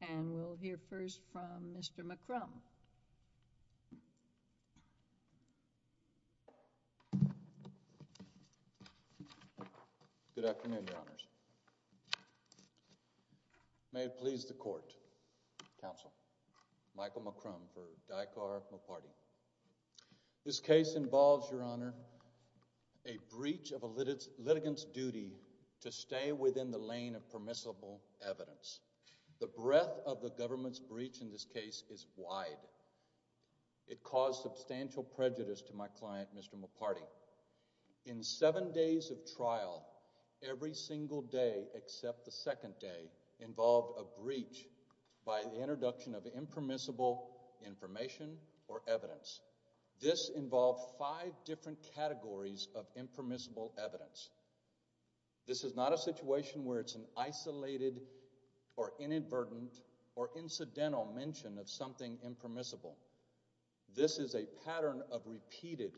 And we'll hear first from Mr. McCrum. Good afternoon, Your Honors. May it please the Court, Counsel, Michael McCrum for Dikar Moparty. This case involves, Your Honor, a breach of a litigant's duty to stay within the lane of permissible evidence. The breadth of the government's breach in this case is wide. It caused substantial prejudice to my client, Mr. Moparty. In seven days of trial, every single day except the second day involved a breach by the introduction of impermissible information or evidence. This involved five different categories of impermissible evidence. This is not a situation where it's an isolated or inadvertent or incidental mention of something impermissible. This is a pattern of repeated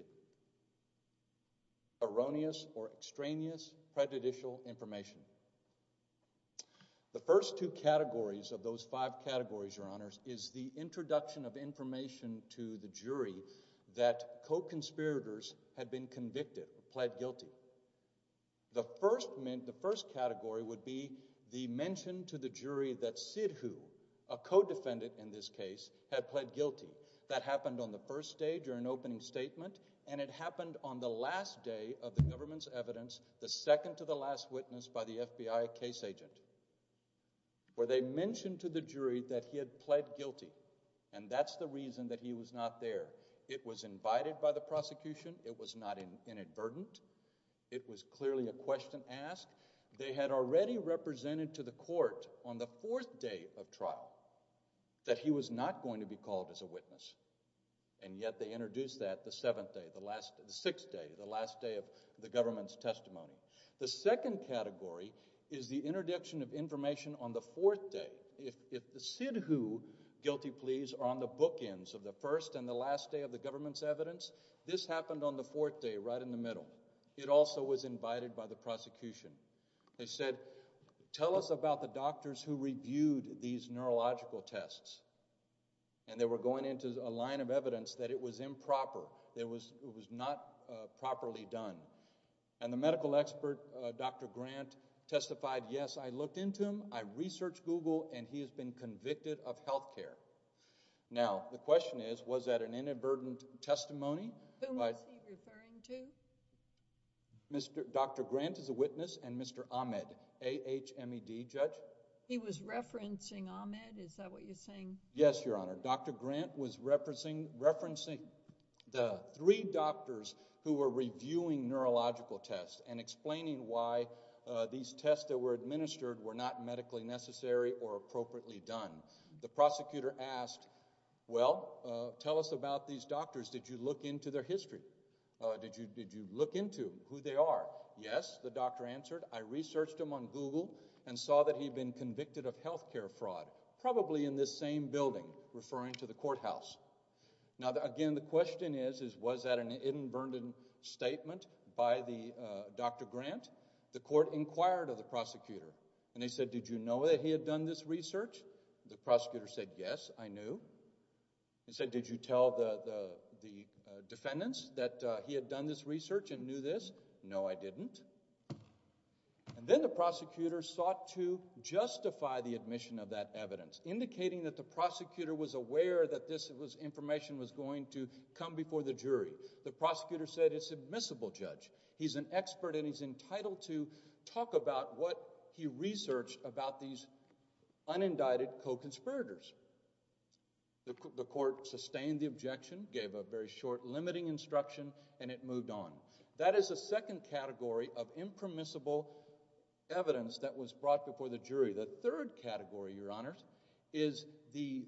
erroneous or extraneous prejudicial information. The first two categories of those five categories, Your Honors, is the introduction of information to the jury that co-conspirators had been convicted, pled guilty. The first category would be the mention to the jury that Sidhu, a co-defendant in this case, had pled guilty. That happened on the first day during opening statement, and it happened on the last day of the government's evidence, the second to the last witness by the FBI case agent, where they mentioned to the jury that he had pled guilty, and that's the reason that he was not there. It was invited by the prosecution. It was not inadvertent. It was clearly a question asked. They had already represented to the court on the fourth day of trial that he was not going to be called as a witness, and yet they introduced that the seventh day, the sixth day, the last day of the government's testimony. The second category is the introduction of information on the fourth day. If the Sidhu guilty pleas are on the bookends of the first and the last day of the government's evidence, this happened on the fourth day, right in the middle. It also was invited by the prosecution. They said, tell us about the doctors who reviewed these neurological tests, and they were going into a line of evidence that it was improper. It was not properly done, and the medical expert, Dr. Grant, testified, yes, I looked into him. I researched Google, and he has been convicted of health care. Now, the question is, was that an inadvertent testimony? Who was he referring to? Dr. Grant is a witness, and Mr. Ahmed, A-H-M-E-D, judge. Yes, Your Honor, Dr. Grant was referencing the three doctors who were reviewing neurological tests and explaining why these tests that were administered were not medically necessary or appropriately done. The prosecutor asked, well, tell us about these doctors. Did you look into their history? Did you look into who they are? Yes, the doctor answered. I researched him on Google and saw that he'd been convicted of health care fraud, probably in this same building, referring to the courthouse. Now, again, the question is, was that an inadvertent statement by Dr. Grant? The court inquired of the prosecutor, and they said, did you know that he had done this research? The prosecutor said, yes, I knew. They said, did you tell the defendants that he had done this research and knew this? No, I didn't. And then the prosecutor sought to justify the admission of that evidence, indicating that the prosecutor was aware that this information was going to come before the jury. The prosecutor said, it's admissible, Judge. He's an expert, and he's entitled to talk about what he researched about these unindicted co-conspirators. The court sustained the objection, gave a very short, limiting instruction, and it moved on. That is a second category of impermissible evidence that was brought before the jury. The third category, Your Honor, is the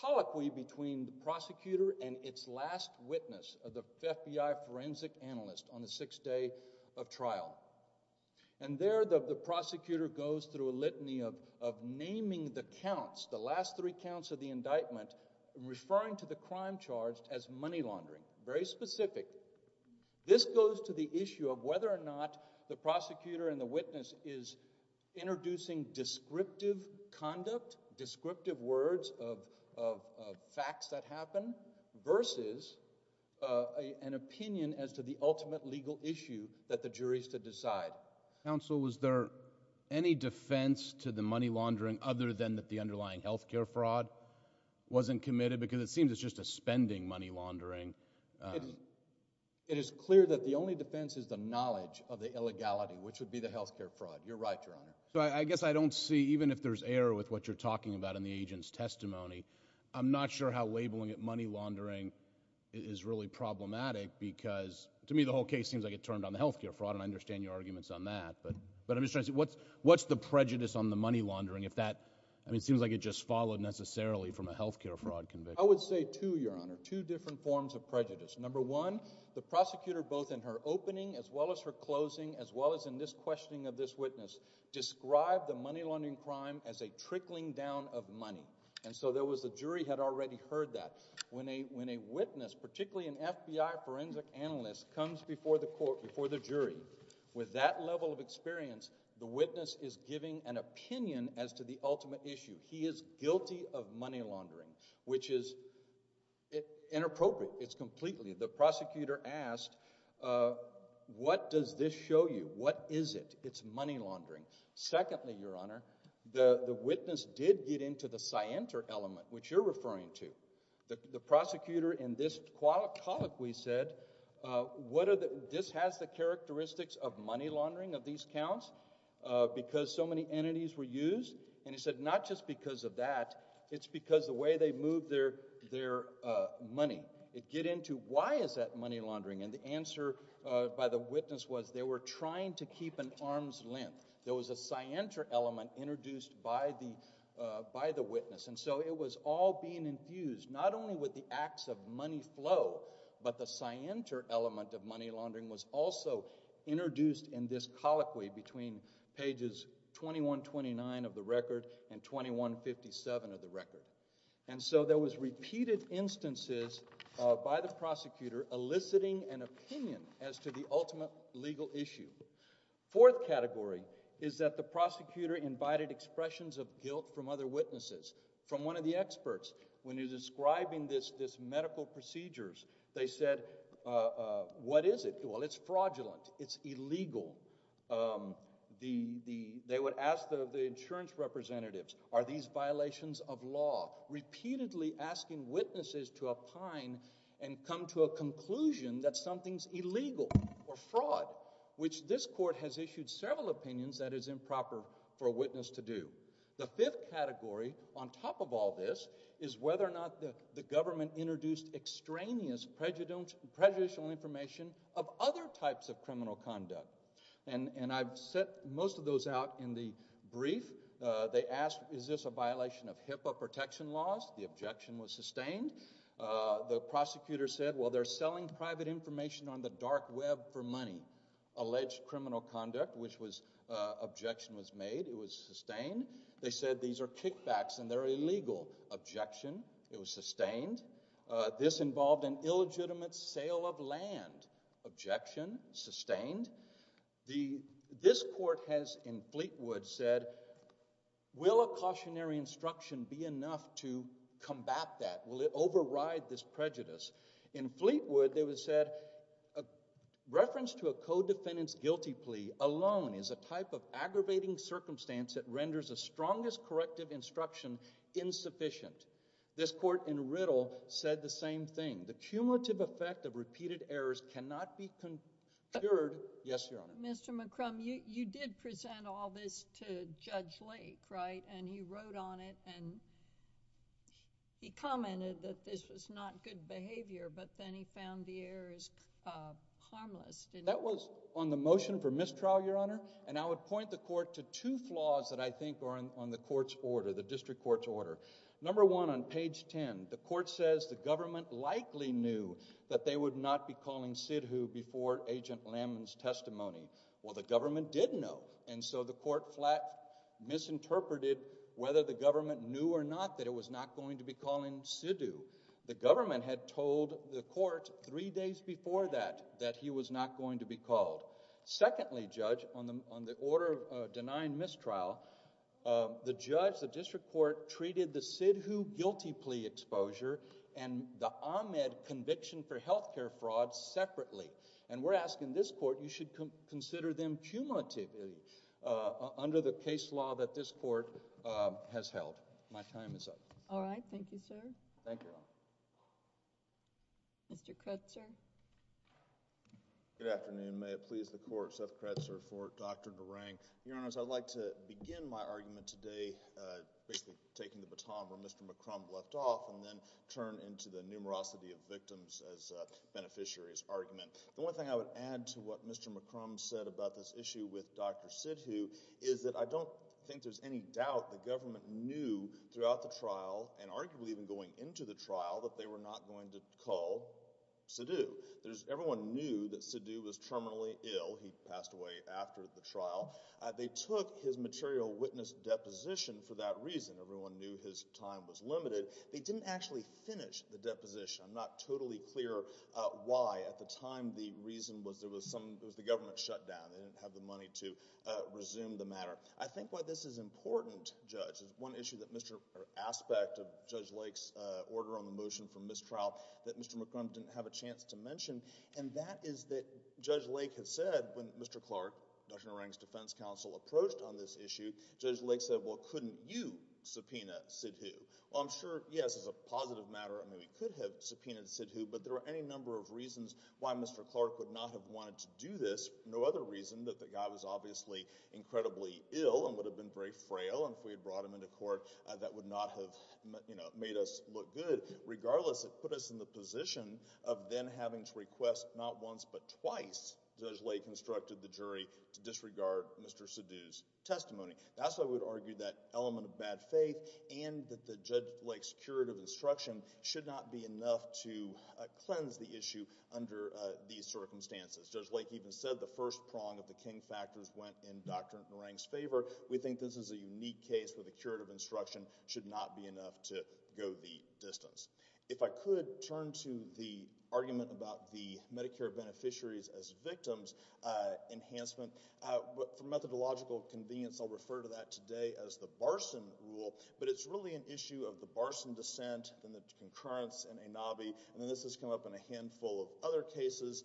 colloquy between the prosecutor and its last witness, the FBI forensic analyst on the sixth day of trial. And there, the prosecutor goes through a litany of naming the counts, the last three counts of the indictment, referring to the crime charged as money laundering. Very specific. This goes to the issue of whether or not the prosecutor and the witness is introducing descriptive conduct, descriptive words of facts that happen, versus an opinion as to the ultimate legal issue that the jury is to decide. Counsel, was there any defense to the money laundering other than that the underlying health care fraud wasn't committed? Because it seems it's just a spending money laundering. It is clear that the only defense is the knowledge of the illegality, which would be the health care fraud. You're right, Your Honor. So I guess I don't see, even if there's error with what you're talking about in the agent's testimony, I'm not sure how labeling it money laundering is really problematic. Because to me, the whole case seems like it turned on the health care fraud, and I understand your arguments on that. But I'm just trying to see what's the prejudice on the money laundering if that – I mean, it seems like it just followed necessarily from a health care fraud conviction. I would say two, Your Honor, two different forms of prejudice. Number one, the prosecutor, both in her opening as well as her closing, as well as in this questioning of this witness, described the money laundering crime as a trickling down of money. And so there was – the jury had already heard that. When a witness, particularly an FBI forensic analyst, comes before the court, before the jury, with that level of experience, the witness is giving an opinion as to the ultimate issue. He is guilty of money laundering, which is inappropriate. It's completely – the prosecutor asked, what does this show you? What is it? It's money laundering. Secondly, Your Honor, the witness did get into the scienter element, which you're referring to. The prosecutor in this colloquy said, what are the – this has the characteristics of money laundering of these counts because so many entities were used? And he said not just because of that. It's because the way they moved their money. It get into why is that money laundering? And the answer by the witness was they were trying to keep an arm's length. There was a scienter element introduced by the witness. And so it was all being infused not only with the acts of money flow, but the scienter element of money laundering was also introduced in this colloquy between pages 2129 of the record and 2157 of the record. And so there was repeated instances by the prosecutor eliciting an opinion as to the ultimate legal issue. Fourth category is that the prosecutor invited expressions of guilt from other witnesses, from one of the experts. When he was describing this medical procedures, they said, what is it? Well, it's fraudulent. It's illegal. They would ask the insurance representatives, are these violations of law? Repeatedly asking witnesses to opine and come to a conclusion that something's illegal or fraud, which this court has issued several opinions that is improper for a witness to do. The fifth category, on top of all this, is whether or not the government introduced extraneous prejudicial information of other types of criminal conduct. And I've set most of those out in the brief. They asked, is this a violation of HIPAA protection laws? The objection was sustained. The prosecutor said, well, they're selling private information on the dark web for money. Alleged criminal conduct, which objection was made. It was sustained. They said, these are kickbacks and they're illegal. Objection. It was sustained. This involved an illegitimate sale of land. Objection. Sustained. This court has, in Fleetwood, said, will a cautionary instruction be enough to combat that? Will it override this prejudice? In Fleetwood, they said, reference to a co-defendant's guilty plea alone is a type of aggravating circumstance that renders a strongest corrective instruction insufficient. This court in Riddle said the same thing. The cumulative effect of repeated errors cannot be cured. Yes, Your Honor. Mr. McCrum, you did present all this to Judge Lake, right? And he wrote on it and he commented that this was not good behavior. But then he found the errors harmless. That was on the motion for mistrial, Your Honor. And I would point the court to two flaws that I think are on the court's order, the district court's order. Number one, on page 10, the court says the government likely knew that they would not be calling Sidhu before Agent Lambman's testimony. Well, the government did know. And so the court flat misinterpreted whether the government knew or not that it was not going to be calling Sidhu. The government had told the court three days before that that he was not going to be called. Secondly, Judge, on the order of denying mistrial, the judge, the district court, treated the Sidhu guilty plea exposure and the Ahmed conviction for health care fraud separately. And we're asking this court, you should consider them cumulatively under the case law that this court has held. My time is up. All right. Thank you, sir. Thank you, Your Honor. Mr. Kretzer. Good afternoon. May it please the court, Seth Kretzer for Dr. Narang. Your Honors, I'd like to begin my argument today basically taking the baton where Mr. McCrumb left off and then turn into the numerosity of victims as beneficiaries argument. The one thing I would add to what Mr. McCrumb said about this issue with Dr. Sidhu is that I don't think there's any doubt the government knew throughout the trial and arguably even going into the trial that they were not going to call Sidhu. Everyone knew that Sidhu was terminally ill. He passed away after the trial. They took his material witness deposition for that reason. Everyone knew his time was limited. They didn't actually finish the deposition. I'm not totally clear why. At the time, the reason was there was some – it was the government shutdown. They didn't have the money to resume the matter. I think why this is important, Judge, is one issue that Mr. – or aspect of Judge Lake's order on the motion for mistrial that Mr. McCrumb didn't have a chance to mention, and that is that Judge Lake has said when Mr. Clark, Dr. Narang's defense counsel, approached on this issue, Judge Lake said, well, couldn't you subpoena Sidhu? Well, I'm sure, yes, it's a positive matter. I know he could have subpoenaed Sidhu, but there are any number of reasons why Mr. Clark would not have wanted to do this. There's no other reason that the guy was obviously incredibly ill and would have been very frail, and if we had brought him into court, that would not have made us look good. Regardless, it put us in the position of then having to request not once but twice Judge Lake instructed the jury to disregard Mr. Sidhu's testimony. That's why I would argue that element of bad faith and that Judge Lake's curative instruction should not be enough to cleanse the issue under these circumstances. Judge Lake even said the first prong of the King factors went in Dr. Narang's favor. We think this is a unique case where the curative instruction should not be enough to go the distance. If I could turn to the argument about the Medicare beneficiaries as victims enhancement. For methodological convenience, I'll refer to that today as the Barson rule, but it's really an issue of the Barson dissent and the concurrence in ANABI, and this has come up in a handful of other cases.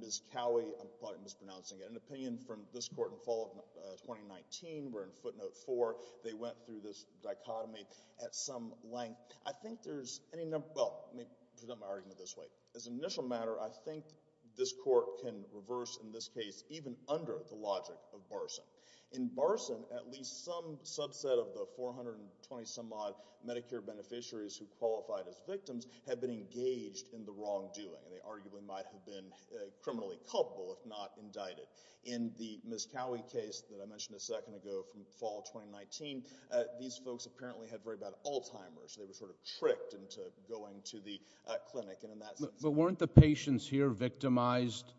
Ms. Cowie, I'm probably mispronouncing it, had an opinion from this court in fall of 2019. We're in footnote four. They went through this dichotomy at some length. I think there's any number—well, let me present my argument this way. As an initial matter, I think this court can reverse in this case even under the logic of Barson. In Barson, at least some subset of the 420-some-odd Medicare beneficiaries who qualified as victims had been engaged in the wrongdoing, and they arguably might have been criminally culpable if not indicted. In the Ms. Cowie case that I mentioned a second ago from fall of 2019, these folks apparently had very bad Alzheimer's. They were sort of tricked into going to the clinic, and in that sense— But weren't the patients here victimized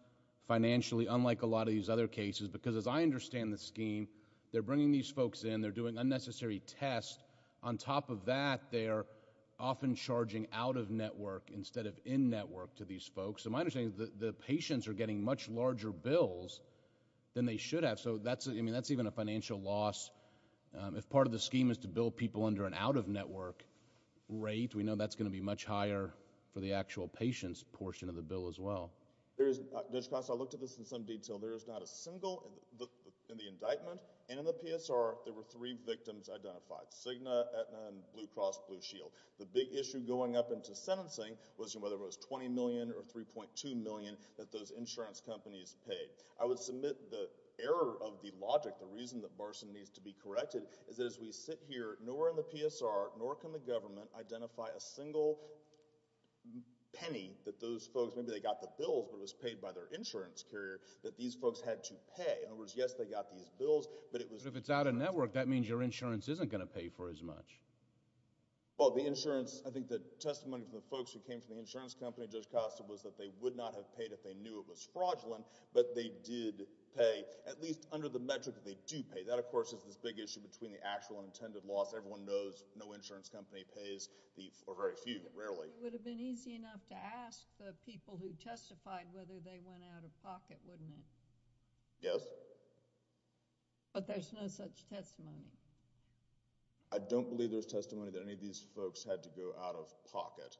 financially, unlike a lot of these other cases? Because as I understand the scheme, they're bringing these folks in. They're doing unnecessary tests. On top of that, they're often charging out-of-network instead of in-network to these folks. So my understanding is the patients are getting much larger bills than they should have, so that's even a financial loss. If part of the scheme is to bill people under an out-of-network rate, we know that's going to be much higher for the actual patients portion of the bill as well. Judge Costa, I looked at this in some detail. There is not a single—in the indictment and in the PSR, there were three victims identified, Cigna, Aetna, and Blue Cross Blue Shield. The big issue going up into sentencing was whether it was $20 million or $3.2 million that those insurance companies paid. I would submit the error of the logic, the reason that Barson needs to be corrected, is that as we sit here, nor in the PSR, nor can the government identify a single penny that those folks— maybe they got the bills, but it was paid by their insurance carrier—that these folks had to pay. In other words, yes, they got these bills, but it was— But if it's out-of-network, that means your insurance isn't going to pay for as much. Well, the insurance—I think the testimony from the folks who came from the insurance company, Judge Costa, was that they would not have paid if they knew it was fraudulent, but they did pay, at least under the metric that they do pay. That, of course, is this big issue between the actual unintended loss. Everyone knows no insurance company pays the—or very few, rarely. It would have been easy enough to ask the people who testified whether they went out-of-pocket, wouldn't it? Yes. But there's no such testimony. I don't believe there's testimony that any of these folks had to go out-of-pocket.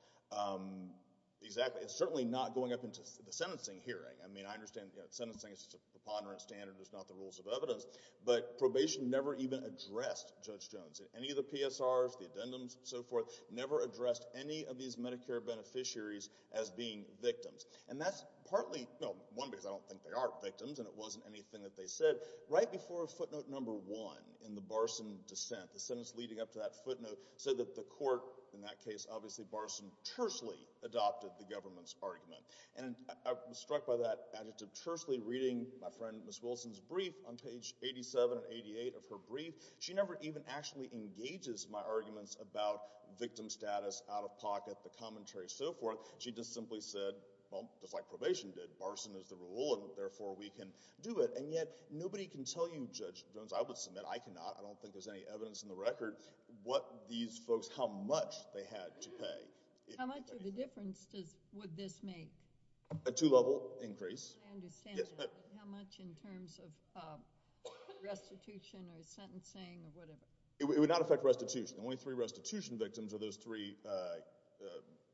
Exactly. It's certainly not going up into the sentencing hearing. I mean, I understand sentencing is a preponderant standard. It's not the rules of evidence. But probation never even addressed Judge Jones. Any of the PSRs, the addendums, so forth, never addressed any of these Medicare beneficiaries as being victims. And that's partly—well, one, because I don't think they are victims, and it wasn't anything that they said. Right before footnote number one in the Barson dissent, the sentence leading up to that footnote, said that the court—in that case, obviously, Barson tersely adopted the government's argument. And I was struck by that adjective, tersely, reading my friend Ms. Wilson's brief on page 87 and 88 of her brief. She never even actually engages my arguments about victim status, out-of-pocket, the commentary, so forth. She just simply said, well, just like probation did, Barson is the rule, and therefore we can do it. And yet nobody can tell you, Judge Jones—I would submit I cannot. I don't think there's any evidence in the record what these folks—how much they had to pay. How much of a difference would this make? A two-level increase. I understand, but how much in terms of restitution or sentencing or whatever? It would not affect restitution. The only three restitution victims are those three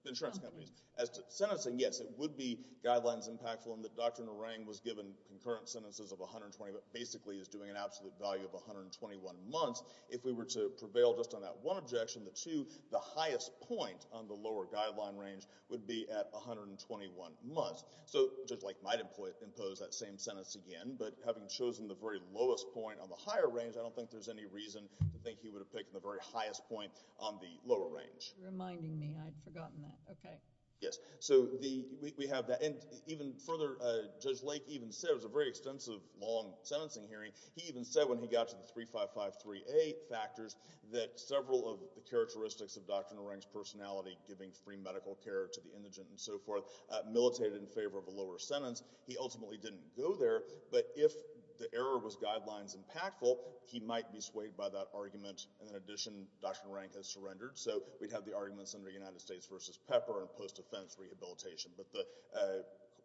insurance companies. Sentencing? Sentencing, yes. It would be guidelines impactful in that Dr. Narang was given concurrent sentences of 120— basically is doing an absolute value of 121 months. If we were to prevail just on that one objection, the two, the highest point on the lower guideline range would be at 121 months. So Judge Lake might impose that same sentence again, but having chosen the very lowest point on the higher range, I don't think there's any reason to think he would have picked the very highest point on the lower range. You're reminding me. I'd forgotten that. Okay. Yes. So we have that. And even further, Judge Lake even said—it was a very extensive, long sentencing hearing— he even said when he got to the 3553A factors that several of the characteristics of Dr. Narang's personality, giving free medical care to the indigent and so forth, militated in favor of a lower sentence. He ultimately didn't go there. But if the error was guidelines impactful, he might be swayed by that argument. And in addition, Dr. Narang has surrendered. So we'd have the arguments under United States v. Pepper and post-offense rehabilitation. But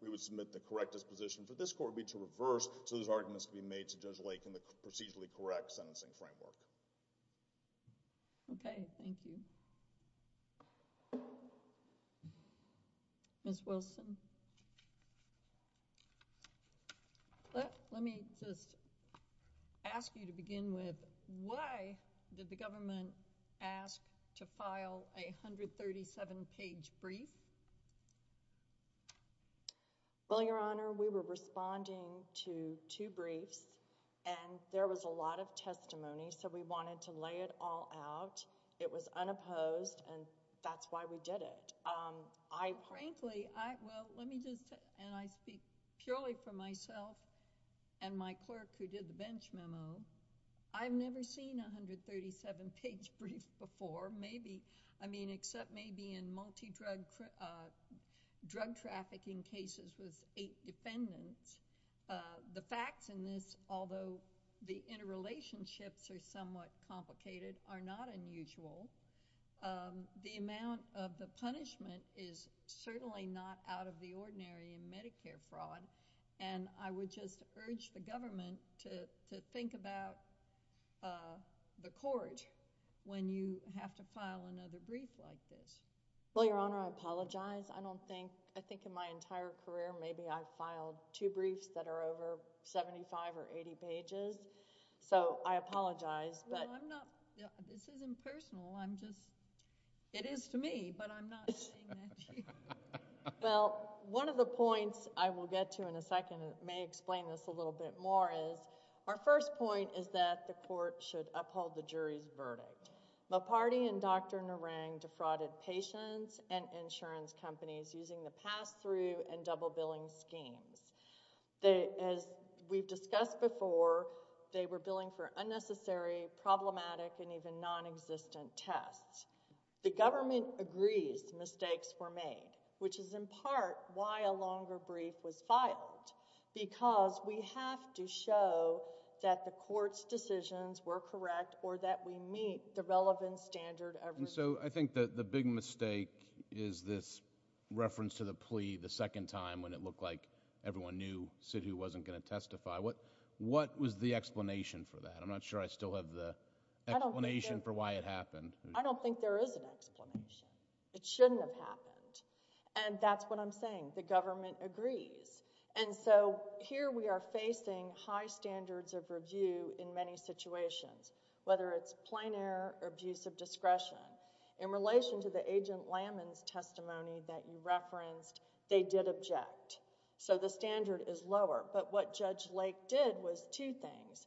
we would submit the correct disposition for this court would be to reverse so those arguments can be made to Judge Lake in the procedurally correct sentencing framework. Okay. Thank you. Ms. Wilson. Let me just ask you to begin with, why did the government ask to file a 137-page brief? Well, Your Honor, we were responding to two briefs, and there was a lot of testimony. So we wanted to lay it all out. It was unopposed, and that's why we did it. Frankly, I—well, let me just—and I speak purely for myself and my clerk who did the bench memo. I've never seen a 137-page brief before, maybe—I mean, except maybe in multi-drug trafficking cases with eight defendants. The facts in this, although the interrelationships are somewhat complicated, are not unusual. The amount of the punishment is certainly not out of the ordinary in Medicare fraud, and I would just urge the government to think about the court when you have to file another brief like this. Well, Your Honor, I apologize. I don't think—I think in my entire career, maybe I've filed two briefs that are over 75 or 80 pages. So I apologize, but— Well, I'm not—this isn't personal. I'm just—it is to me, but I'm not saying that to you. Well, one of the points I will get to in a second and may explain this a little bit more is, our first point is that the court should uphold the jury's verdict. Mopardi and Dr. Narang defrauded patients and insurance companies using the pass-through and double-billing schemes. As we've discussed before, they were billing for unnecessary, problematic, and even non-existent tests. The government agrees mistakes were made, which is in part why a longer brief was filed, because we have to show that the court's decisions were correct or that we meet the relevant standard of review. And so, I think that the big mistake is this reference to the plea the second time when it looked like everyone knew Sidhu wasn't going to testify. What was the explanation for that? I'm not sure I still have the explanation for why it happened. I don't think there is an explanation. It shouldn't have happened. And that's what I'm saying. The government agrees. And so, here we are facing high standards of review in many situations, whether it's plain error or abuse of discretion. In relation to the Agent Lammon's testimony that you referenced, they did object. So, the standard is lower. But what Judge Lake did was two things.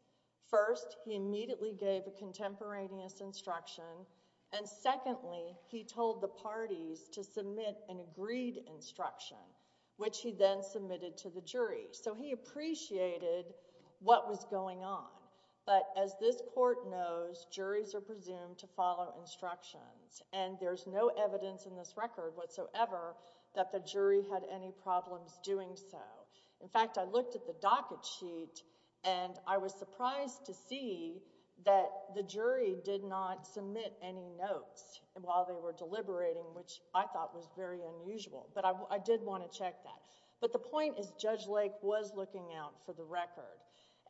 First, he immediately gave a contemporaneous instruction. And secondly, he told the parties to submit an agreed instruction, which he then submitted to the jury. So, he appreciated what was going on. But as this court knows, juries are presumed to follow instructions. And there's no evidence in this record whatsoever that the jury had any problems doing so. In fact, I looked at the docket sheet, and I was surprised to see that the jury did not submit any notes while they were deliberating, which I thought was very unusual. But I did want to check that. But the point is Judge Lake was looking out for the record.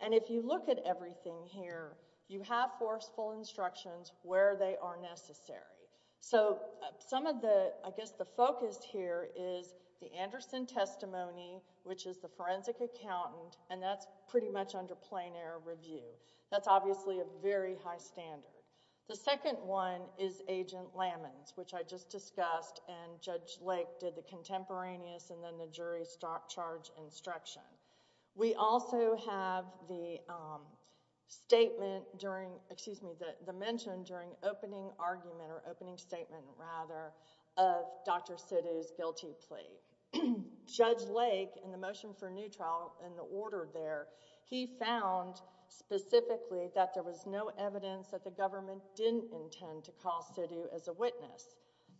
And if you look at everything here, you have forceful instructions where they are necessary. So, some of the—I guess the focus here is the Anderson testimony, which is the forensic accountant, and that's pretty much under plain error review. That's obviously a very high standard. The second one is Agent Lammon's, which I just discussed, and Judge Lake did the contemporaneous and then the jury's charge instruction. We also have the statement during—excuse me, the mention during opening argument or opening statement, rather, of Dr. Sidhu's guilty plea. Judge Lake, in the motion for a new trial, in the order there, he found specifically that there was no evidence that the government didn't intend to call Sidhu as a witness,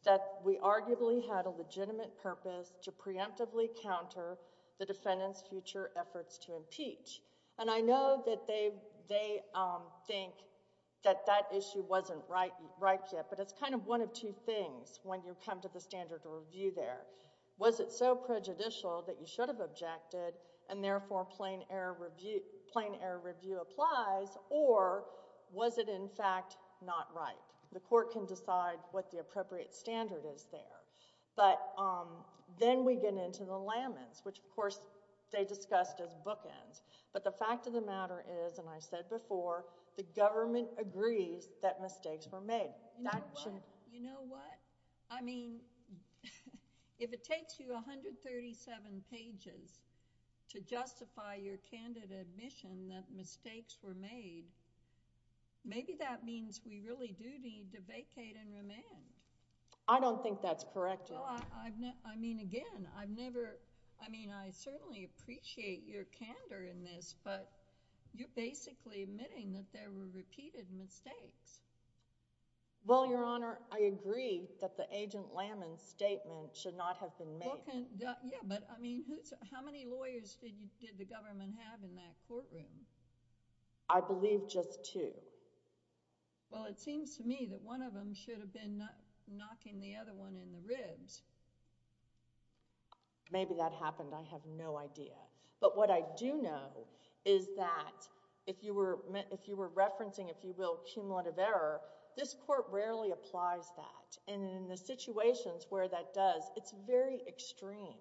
that we arguably had a legitimate purpose to preemptively counter the defendant's future efforts to impeach. And I know that they think that that issue wasn't right yet, but it's kind of one of two things when you come to the standard review there. Was it so prejudicial that you should have objected, and therefore plain error review applies, or was it, in fact, not right? The court can decide what the appropriate standard is there. But then we get into the Lammon's, which, of course, they discussed as bookends. But the fact of the matter is, and I said before, the government agrees that mistakes were made. You know what? I mean, if it takes you 137 pages to justify your candidate admission that mistakes were made, maybe that means we really do need to vacate and remand. I don't think that's correct, Your Honor. Well, I mean, again, I've never—I mean, I certainly appreciate your candor in this, but you're basically admitting that there were repeated mistakes. Well, Your Honor, I agree that the Agent Lammon's statement should not have been made. Yeah, but I mean, how many lawyers did the government have in that courtroom? I believe just two. Well, it seems to me that one of them should have been knocking the other one in the ribs. Maybe that happened. I have no idea. But what I do know is that if you were referencing, if you will, cumulative error, this court rarely applies that. And in the situations where that does, it's very extreme.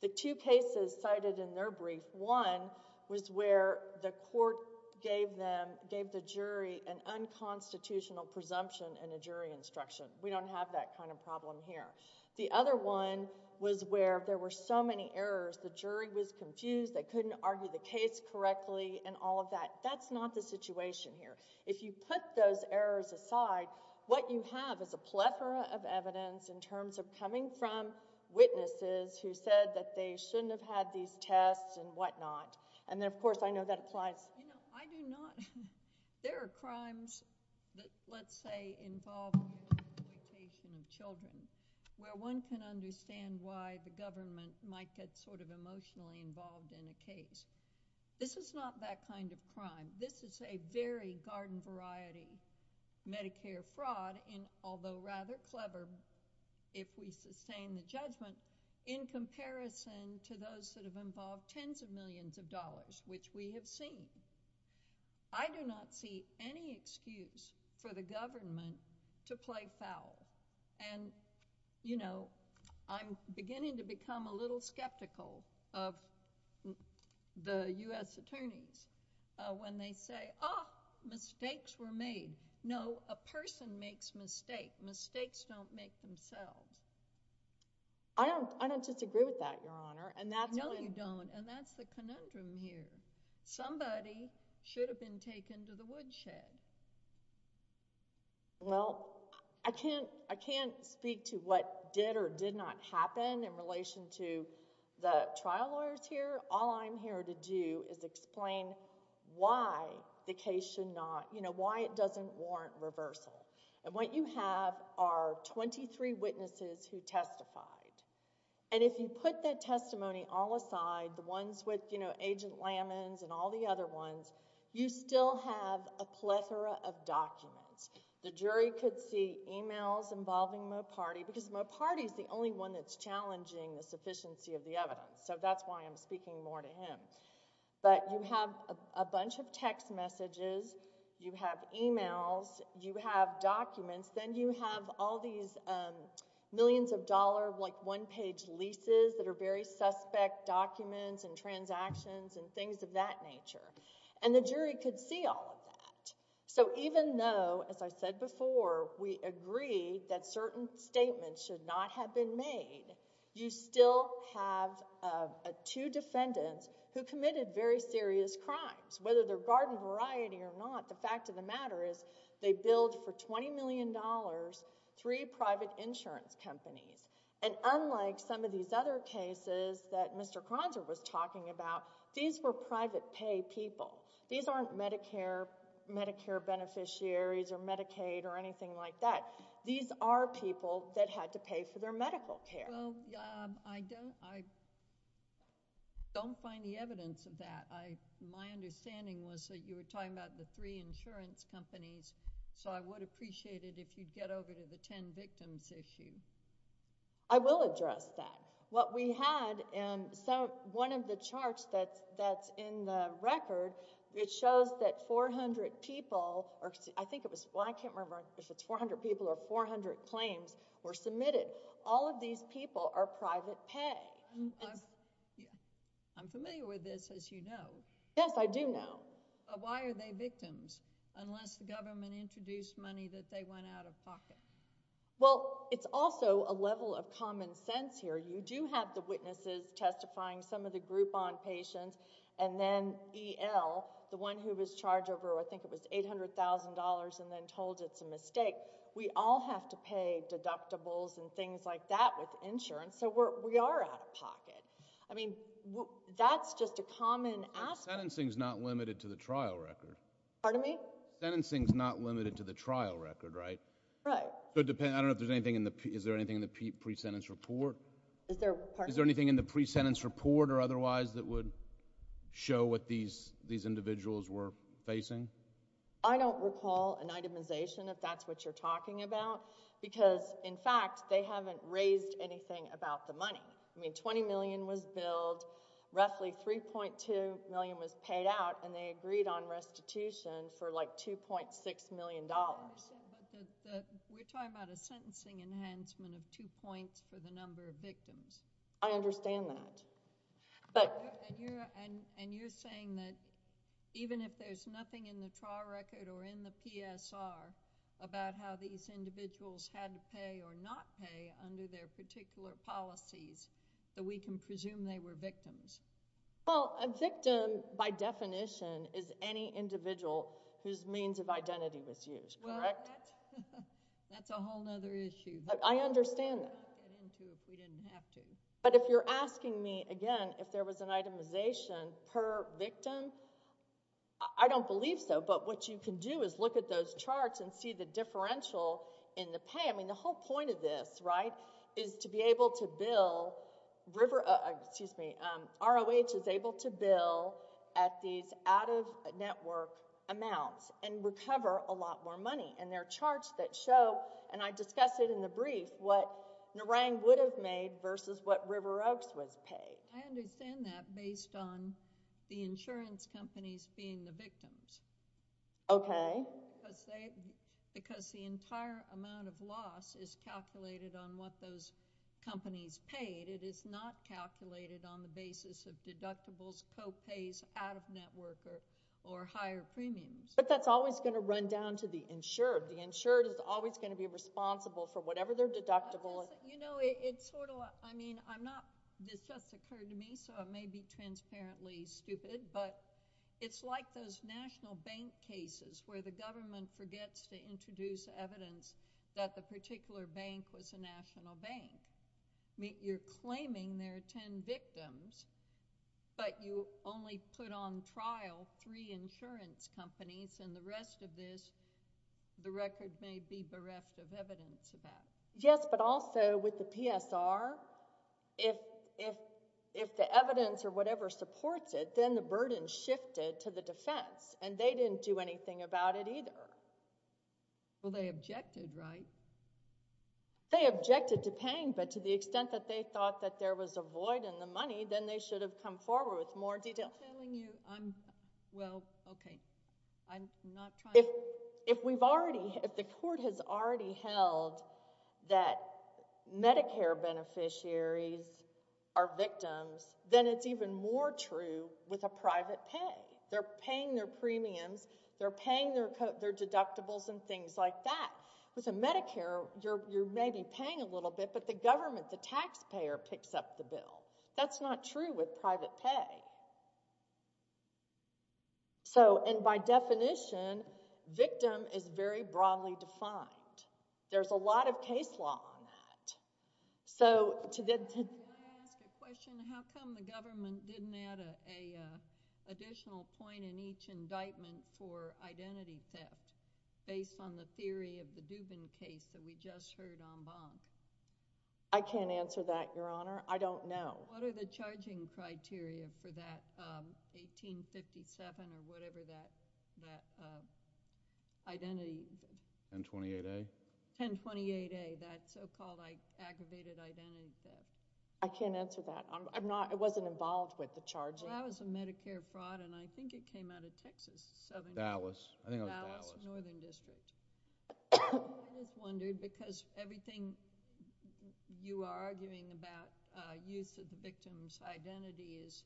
The two cases cited in their brief, one was where the court gave the jury an unconstitutional presumption and a jury instruction. We don't have that kind of problem here. The other one was where there were so many errors, the jury was confused, they couldn't argue the case correctly and all of that. That's not the situation here. If you put those errors aside, what you have is a plethora of evidence in terms of coming from witnesses who said that they shouldn't have had these tests and whatnot. And then, of course, I know that applies. You know, I do not—there are crimes that, let's say, involve mutilation of children, where one can understand why the government might get sort of emotionally involved in a case. This is not that kind of crime. This is a very garden-variety Medicare fraud, although rather clever if we sustain the judgment, in comparison to those that have involved tens of millions of dollars, which we have seen. I do not see any excuse for the government to play foul. And, you know, I'm beginning to become a little skeptical of the U.S. attorneys when they say, ah, mistakes were made. No, a person makes mistakes. Mistakes don't make themselves. I don't disagree with that, Your Honor. No, you don't, and that's the conundrum here. Somebody should have been taken to the woodshed. Well, I can't speak to what did or did not happen in relation to the trial lawyers here. All I'm here to do is explain why the case should not—you know, why it doesn't warrant reversal. And what you have are twenty-three witnesses who testified, and if you put that testimony all aside, the ones with, you know, Agent Lamens and all the other ones, you still have a plethora of documents. The jury could see emails involving Moparty, because Moparty is the only one that's challenging the sufficiency of the evidence, so that's why I'm speaking more to him. But you have a bunch of text messages. You have emails. You have documents. Then you have all these millions-of-dollar, like, one-page leases that are very suspect documents and transactions and things of that nature, and the jury could see all of that. So even though, as I said before, we agree that certain statements should not have been made, you still have two defendants who committed very serious crimes. Whether they're garden variety or not, the fact of the matter is they billed for $20 million three private insurance companies. And unlike some of these other cases that Mr. Kronzer was talking about, these were private pay people. These aren't Medicare beneficiaries or Medicaid or anything like that. These are people that had to pay for their medical care. Well, I don't find the evidence of that. My understanding was that you were talking about the three insurance companies, so I would appreciate it if you'd get over to the ten victims issue. I will address that. What we had in one of the charts that's in the record, it shows that 400 people, or I think it was... well, I can't remember if it's 400 people or 400 claims were submitted. All of these people are private pay. I'm familiar with this, as you know. Yes, I do know. Why are they victims, unless the government introduced money that they went out of pocket? Well, it's also a level of common sense here. You do have the witnesses testifying, some of the Groupon patients, and then EL, the one who was charged over, I think it was $800,000 and then told it's a mistake. We all have to pay deductibles and things like that with insurance, so we are out of pocket. I mean, that's just a common aspect. But sentencing's not limited to the trial record. Pardon me? Sentencing's not limited to the trial record, right? Right. I don't know if there's anything in the... is there anything in the pre-sentence report? Is there... pardon me? Is there anything in the pre-sentence report or otherwise that would show what these individuals were facing? I don't recall an itemization, if that's what you're talking about, because, in fact, they haven't raised anything about the money. I mean, $20 million was billed, roughly $3.2 million was paid out, and they agreed on restitution for like $2.6 million. But we're talking about a sentencing enhancement of two points for the number of victims. I understand that. And you're saying that even if there's nothing in the trial record or in the PSR about how these individuals had to pay or not pay under their particular policies, that we can presume they were victims? Well, a victim, by definition, is any individual whose means of identity was used, correct? Well, that's a whole other issue. I understand that. We wouldn't get into it if we didn't have to. But if you're asking me, again, if there was an itemization per victim, I don't believe so. But what you can do is look at those charts and see the differential in the pay. I mean, the whole point of this, right, is to be able to bill river— excuse me, ROH is able to bill at these out-of-network amounts and recover a lot more money. And there are charts that show, and I discussed it in the brief, what Narang would have made versus what River Oaks was paid. I understand that based on the insurance companies being the victims. Okay. Because the entire amount of loss is calculated on what those companies paid. It is not calculated on the basis of deductibles, co-pays, out-of-network, or higher premiums. But that's always going to run down to the insured. The insured is always going to be responsible for whatever they're deductible. You know, it's sort of—I mean, I'm not—this just occurred to me, so it may be transparently stupid, but it's like those national bank cases where the government forgets to introduce evidence that the particular bank was a national bank. You're claiming there are ten victims, but you only put on trial three insurance companies and the rest of this, the record may be bereft of evidence of that. Yes, but also with the PSR, if the evidence or whatever supports it, then the burden shifted to the defense, and they didn't do anything about it either. Well, they objected, right? They objected to paying, but to the extent that they thought that there was a void in the money, then they should have come forward with more detail. I'm telling you, I'm—well, okay, I'm not trying to— If we've already—if the court has already held that Medicare beneficiaries are victims, then it's even more true with a private pay. They're paying their premiums. They're paying their deductibles and things like that. With a Medicare, you're maybe paying a little bit, but the government, the taxpayer, picks up the bill. That's not true with private pay. So, and by definition, victim is very broadly defined. There's a lot of case law on that. So, to the— Can I ask a question? How come the government didn't add an additional point in each indictment for identity theft based on the theory of the Duvin case that we just heard en banc? I can't answer that, Your Honor. I don't know. What are the charging criteria for that 1857 or whatever that identity— 1028A? 1028A, that so-called aggravated identity theft. I can't answer that. I'm not—I wasn't involved with the charging. Well, that was a Medicare fraud, and I think it came out of Texas. Dallas. I think it was Dallas. Dallas, Northern District. I was wondering, because everything you are arguing about use of the victim's identity is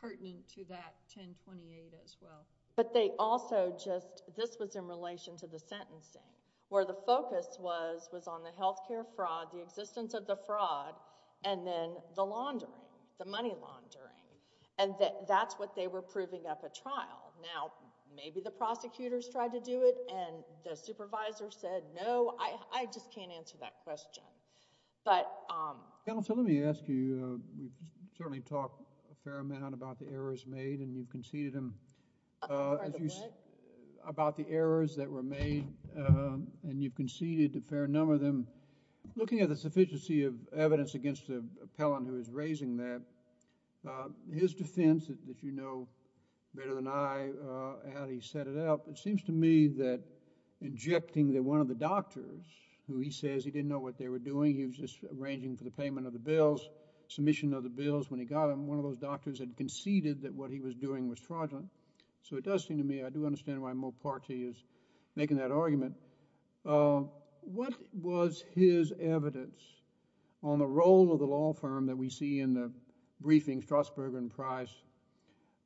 pertinent to that 1028 as well. But they also just—this was in relation to the sentencing, where the focus was on the healthcare fraud, the existence of the fraud, and then the laundering, the money laundering, and that's what they were proving up at trial. Now, maybe the prosecutors tried to do it, and the supervisor said no. I just can't answer that question. But— Counsel, let me ask you. We've certainly talked a fair amount about the errors made, and you've conceded them. Pardon the what? About the errors that were made, and you've conceded a fair number of them. Looking at the sufficiency of evidence against the appellant who is raising that, his defense, as you know better than I, how he set it up, it seems to me that injecting that one of the doctors, who he says he didn't know what they were doing, he was just arranging for the payment of the bills, submission of the bills when he got them, one of those doctors had conceded that what he was doing was fraudulent. So it does seem to me—I do understand why Moparte is making that argument. What was his evidence on the role of the law firm that we see in the briefing, Strasburg and Price,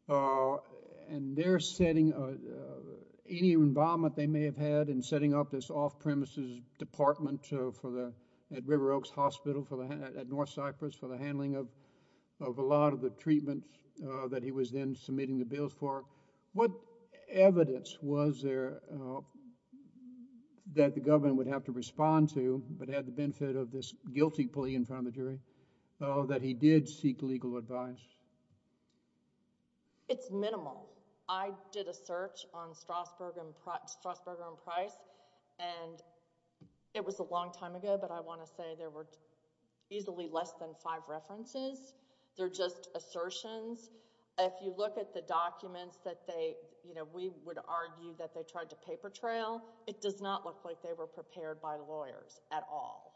and their setting—any involvement they may have had in setting up this off-premises department at River Oaks Hospital at North Cyprus for the handling of a lot of the treatments that he was then submitting the bills for? What evidence was there that the government would have to respond to, but had the benefit of this guilty plea in front of the jury, that he did seek legal advice? It's minimal. I did a search on Strasburg and Price, and it was a long time ago, but I want to say there were easily less than five references. They're just assertions. If you look at the documents that we would argue that they tried to paper trail, it does not look like they were prepared by lawyers at all,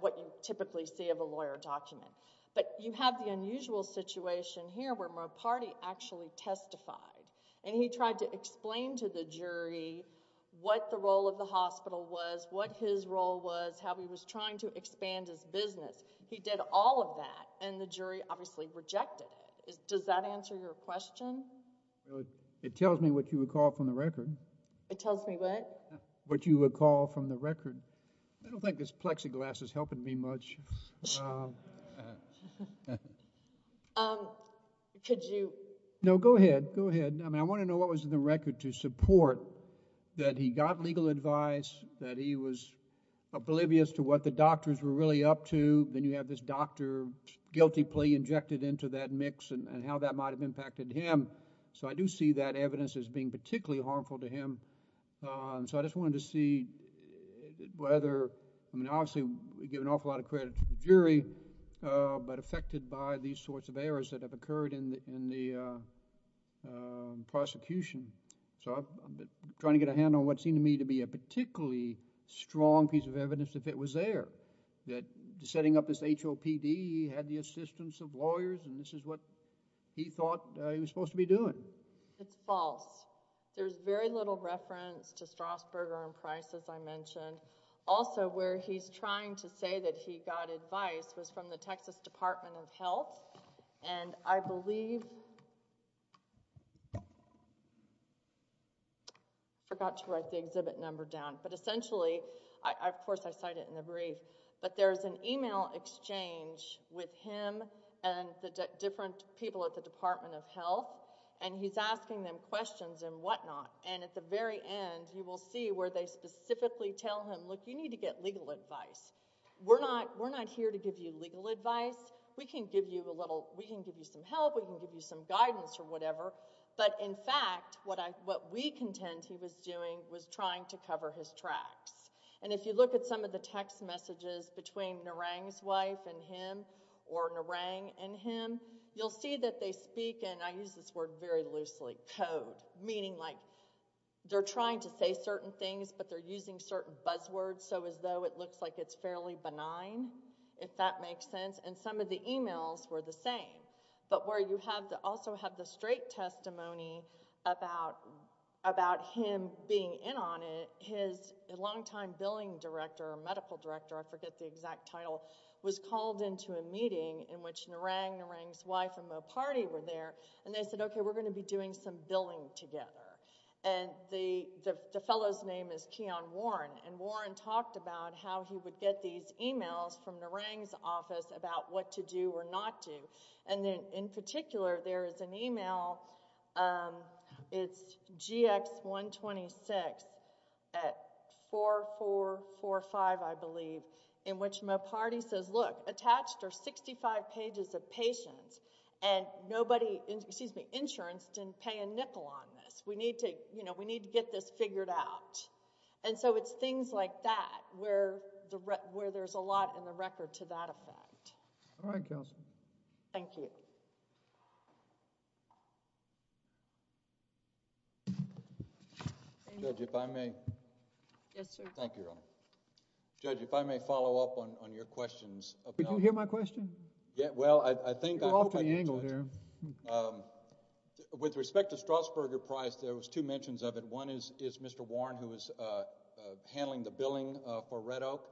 what you typically see of a lawyer document. You have the unusual situation here where Moparte actually testified, and he tried to explain to the jury what the role of the hospital was, what his role was, how he was trying to expand his business. He did all of that, and the jury obviously rejected it. Does that answer your question? It tells me what you recall from the record. It tells me what? What you recall from the record. I don't think this plexiglass is helping me much. Could you... No, go ahead. Go ahead. I want to know what was in the record to support that he got legal advice, that he was oblivious to what the doctors were really up to. Then you have this doctor guilty plea injected into that mix, and how that might have impacted him. I do see that evidence as being particularly harmful to him. I just wanted to see whether... Obviously, we give an awful lot of credit to the jury, but affected by these sorts of errors that have occurred in the prosecution. I'm trying to get a handle on what seemed to me to be a particularly strong piece of evidence if it was there, that setting up this HOPD, he had the assistance of lawyers, and this is what he thought he was supposed to be doing. It's false. There's very little reference to Strasburger and Price, as I mentioned. Also, where he's trying to say that he got advice was from the Texas Department of Health, and I believe... Of course, I cite it in the brief, but there's an email exchange with him and the different people at the Department of Health, and he's asking them questions and whatnot. At the very end, you will see where they specifically tell him, look, you need to get legal advice. We're not here to give you legal advice. We can give you some help. We can give you some guidance or whatever, but in fact, what we contend he was doing was trying to cover his tracks. If you look at some of the text messages between Narang's wife and him or Narang and him, you'll see that they speak, and I use this word very loosely, code, meaning like they're trying to say certain things, but they're using certain buzzwords so as though it looks like it's fairly benign, if that makes sense, and some of the emails were the same. Where you also have the straight testimony about him being in on it, his longtime billing director or medical director, I forget the exact title, was called into a meeting in which Narang, Narang's wife, and Moparty were there, and they said, okay, we're going to be doing some billing together, and the fellow's name is Keon Warren, and Warren talked about how he would get these emails from Narang's office about what to do or not do, and in particular, there is an email, it's GX126 at 4445, I believe, in which Moparty says, look, attached are 65 pages of patients, and nobody, excuse me, insurance didn't pay a nickel on this. We need to, you know, we need to get this figured out, and so it's things like that where there's a lot in the record to that effect. All right, counsel. Thank you. Thank you. Judge, if I may. Yes, sir. Thank you, Your Honor. Judge, if I may follow up on your questions. Did you hear my question? Well, I think... Go off the angle here. With respect to Strassburger Price, there was two mentions of it. One is Mr. Warren, who was handling the billing for Red Oak,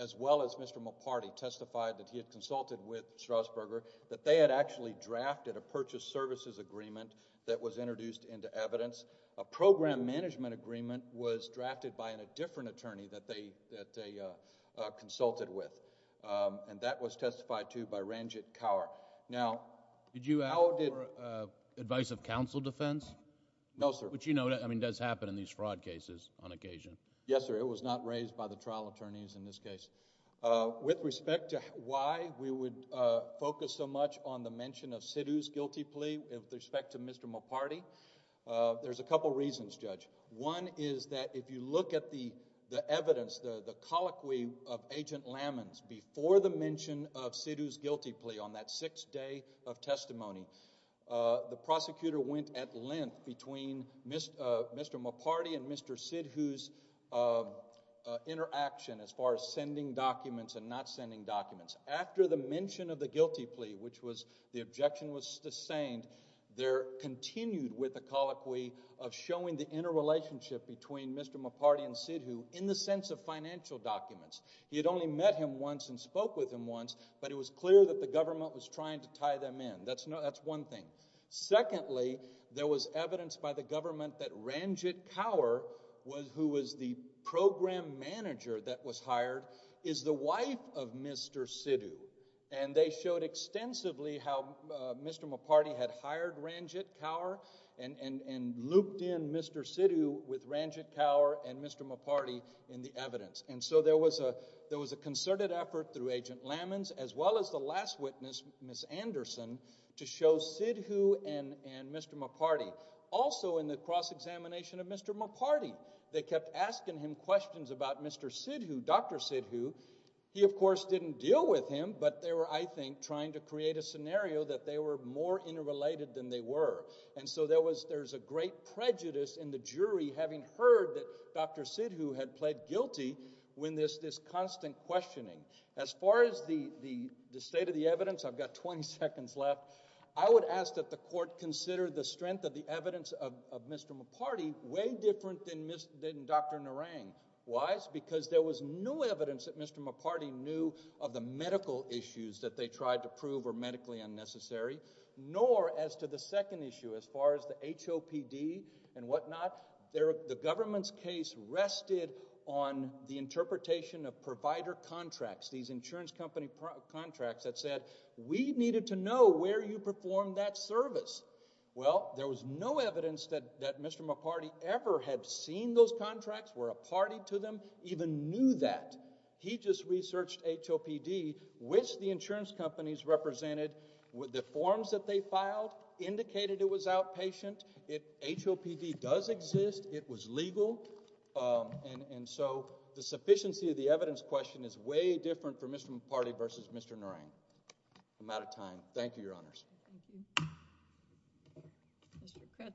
as well as Mr. Warren's, and the other was that Mr. Warren had actually drafted a purchase services agreement that was introduced into evidence. A program management agreement was drafted by a different attorney that they consulted with, and that was testified to by Ranjit Kaur. Now... Did you ask for advice of counsel defense? No, sir. Which you know does happen in these fraud cases on occasion. Yes, sir. It was not raised by the trial attorneys in this case. With respect to why we would focus so much on the mention of Sidhu's guilty plea with respect to Mr. Moparty, there's a couple reasons, Judge. One is that if you look at the evidence, the colloquy of Agent Lamans, before the mention of Sidhu's guilty plea on that sixth day of testimony, the prosecutor went at length between Mr. Moparty and Mr. Sidhu's interaction as far as sending documents and not sending documents. After the mention of the guilty plea, which was the objection was sustained, there continued with the colloquy of showing the interrelationship between Mr. Moparty and Sidhu in the sense of financial documents. He had only met him once and spoke with him once, but it was clear that the government was trying to tie them in. That's one thing. Secondly, there was evidence by the government that Ranjit Kaur, who was the program manager that was hired, is the wife of Mr. Sidhu. And they showed extensively how Mr. Moparty had hired Ranjit Kaur and looped in Mr. Sidhu with Ranjit Kaur and Mr. Moparty in the evidence. And so there was a concerted effort through Agent Lamans, as well as the last witness, Ms. Anderson, to show Sidhu and Mr. Moparty. Also in the cross-examination of Mr. Moparty, they kept asking him questions about Mr. Sidhu, Dr. Sidhu. He, of course, didn't deal with him, but they were, I think, trying to create a scenario that they were more interrelated than they were. And so there's a great prejudice in the jury having heard that Dr. Sidhu had pled guilty when there's this constant questioning. As far as the state of the evidence, I've got 20 seconds left. I would ask that the court consider the strength of the evidence of Mr. Moparty way different than Dr. Narang. Why? Because there was no evidence that Mr. Moparty knew of the medical issues that they tried to prove were medically unnecessary, nor as to the second issue as far as the HOPD and whatnot. The government's case rested on the interpretation of provider contracts, these insurance company contracts that said, we needed to know where you performed that service. Well, there was no evidence that Mr. Moparty ever had seen those contracts, were a party to them, even knew that. He just researched HOPD, which the insurance companies represented. The forms that they filed indicated it was outpatient. If HOPD does exist, it was legal, and so the sufficiency of the evidence question is way different for Mr. Moparty versus Mr. Narang. I'm out of time. Thank you, Your Honors.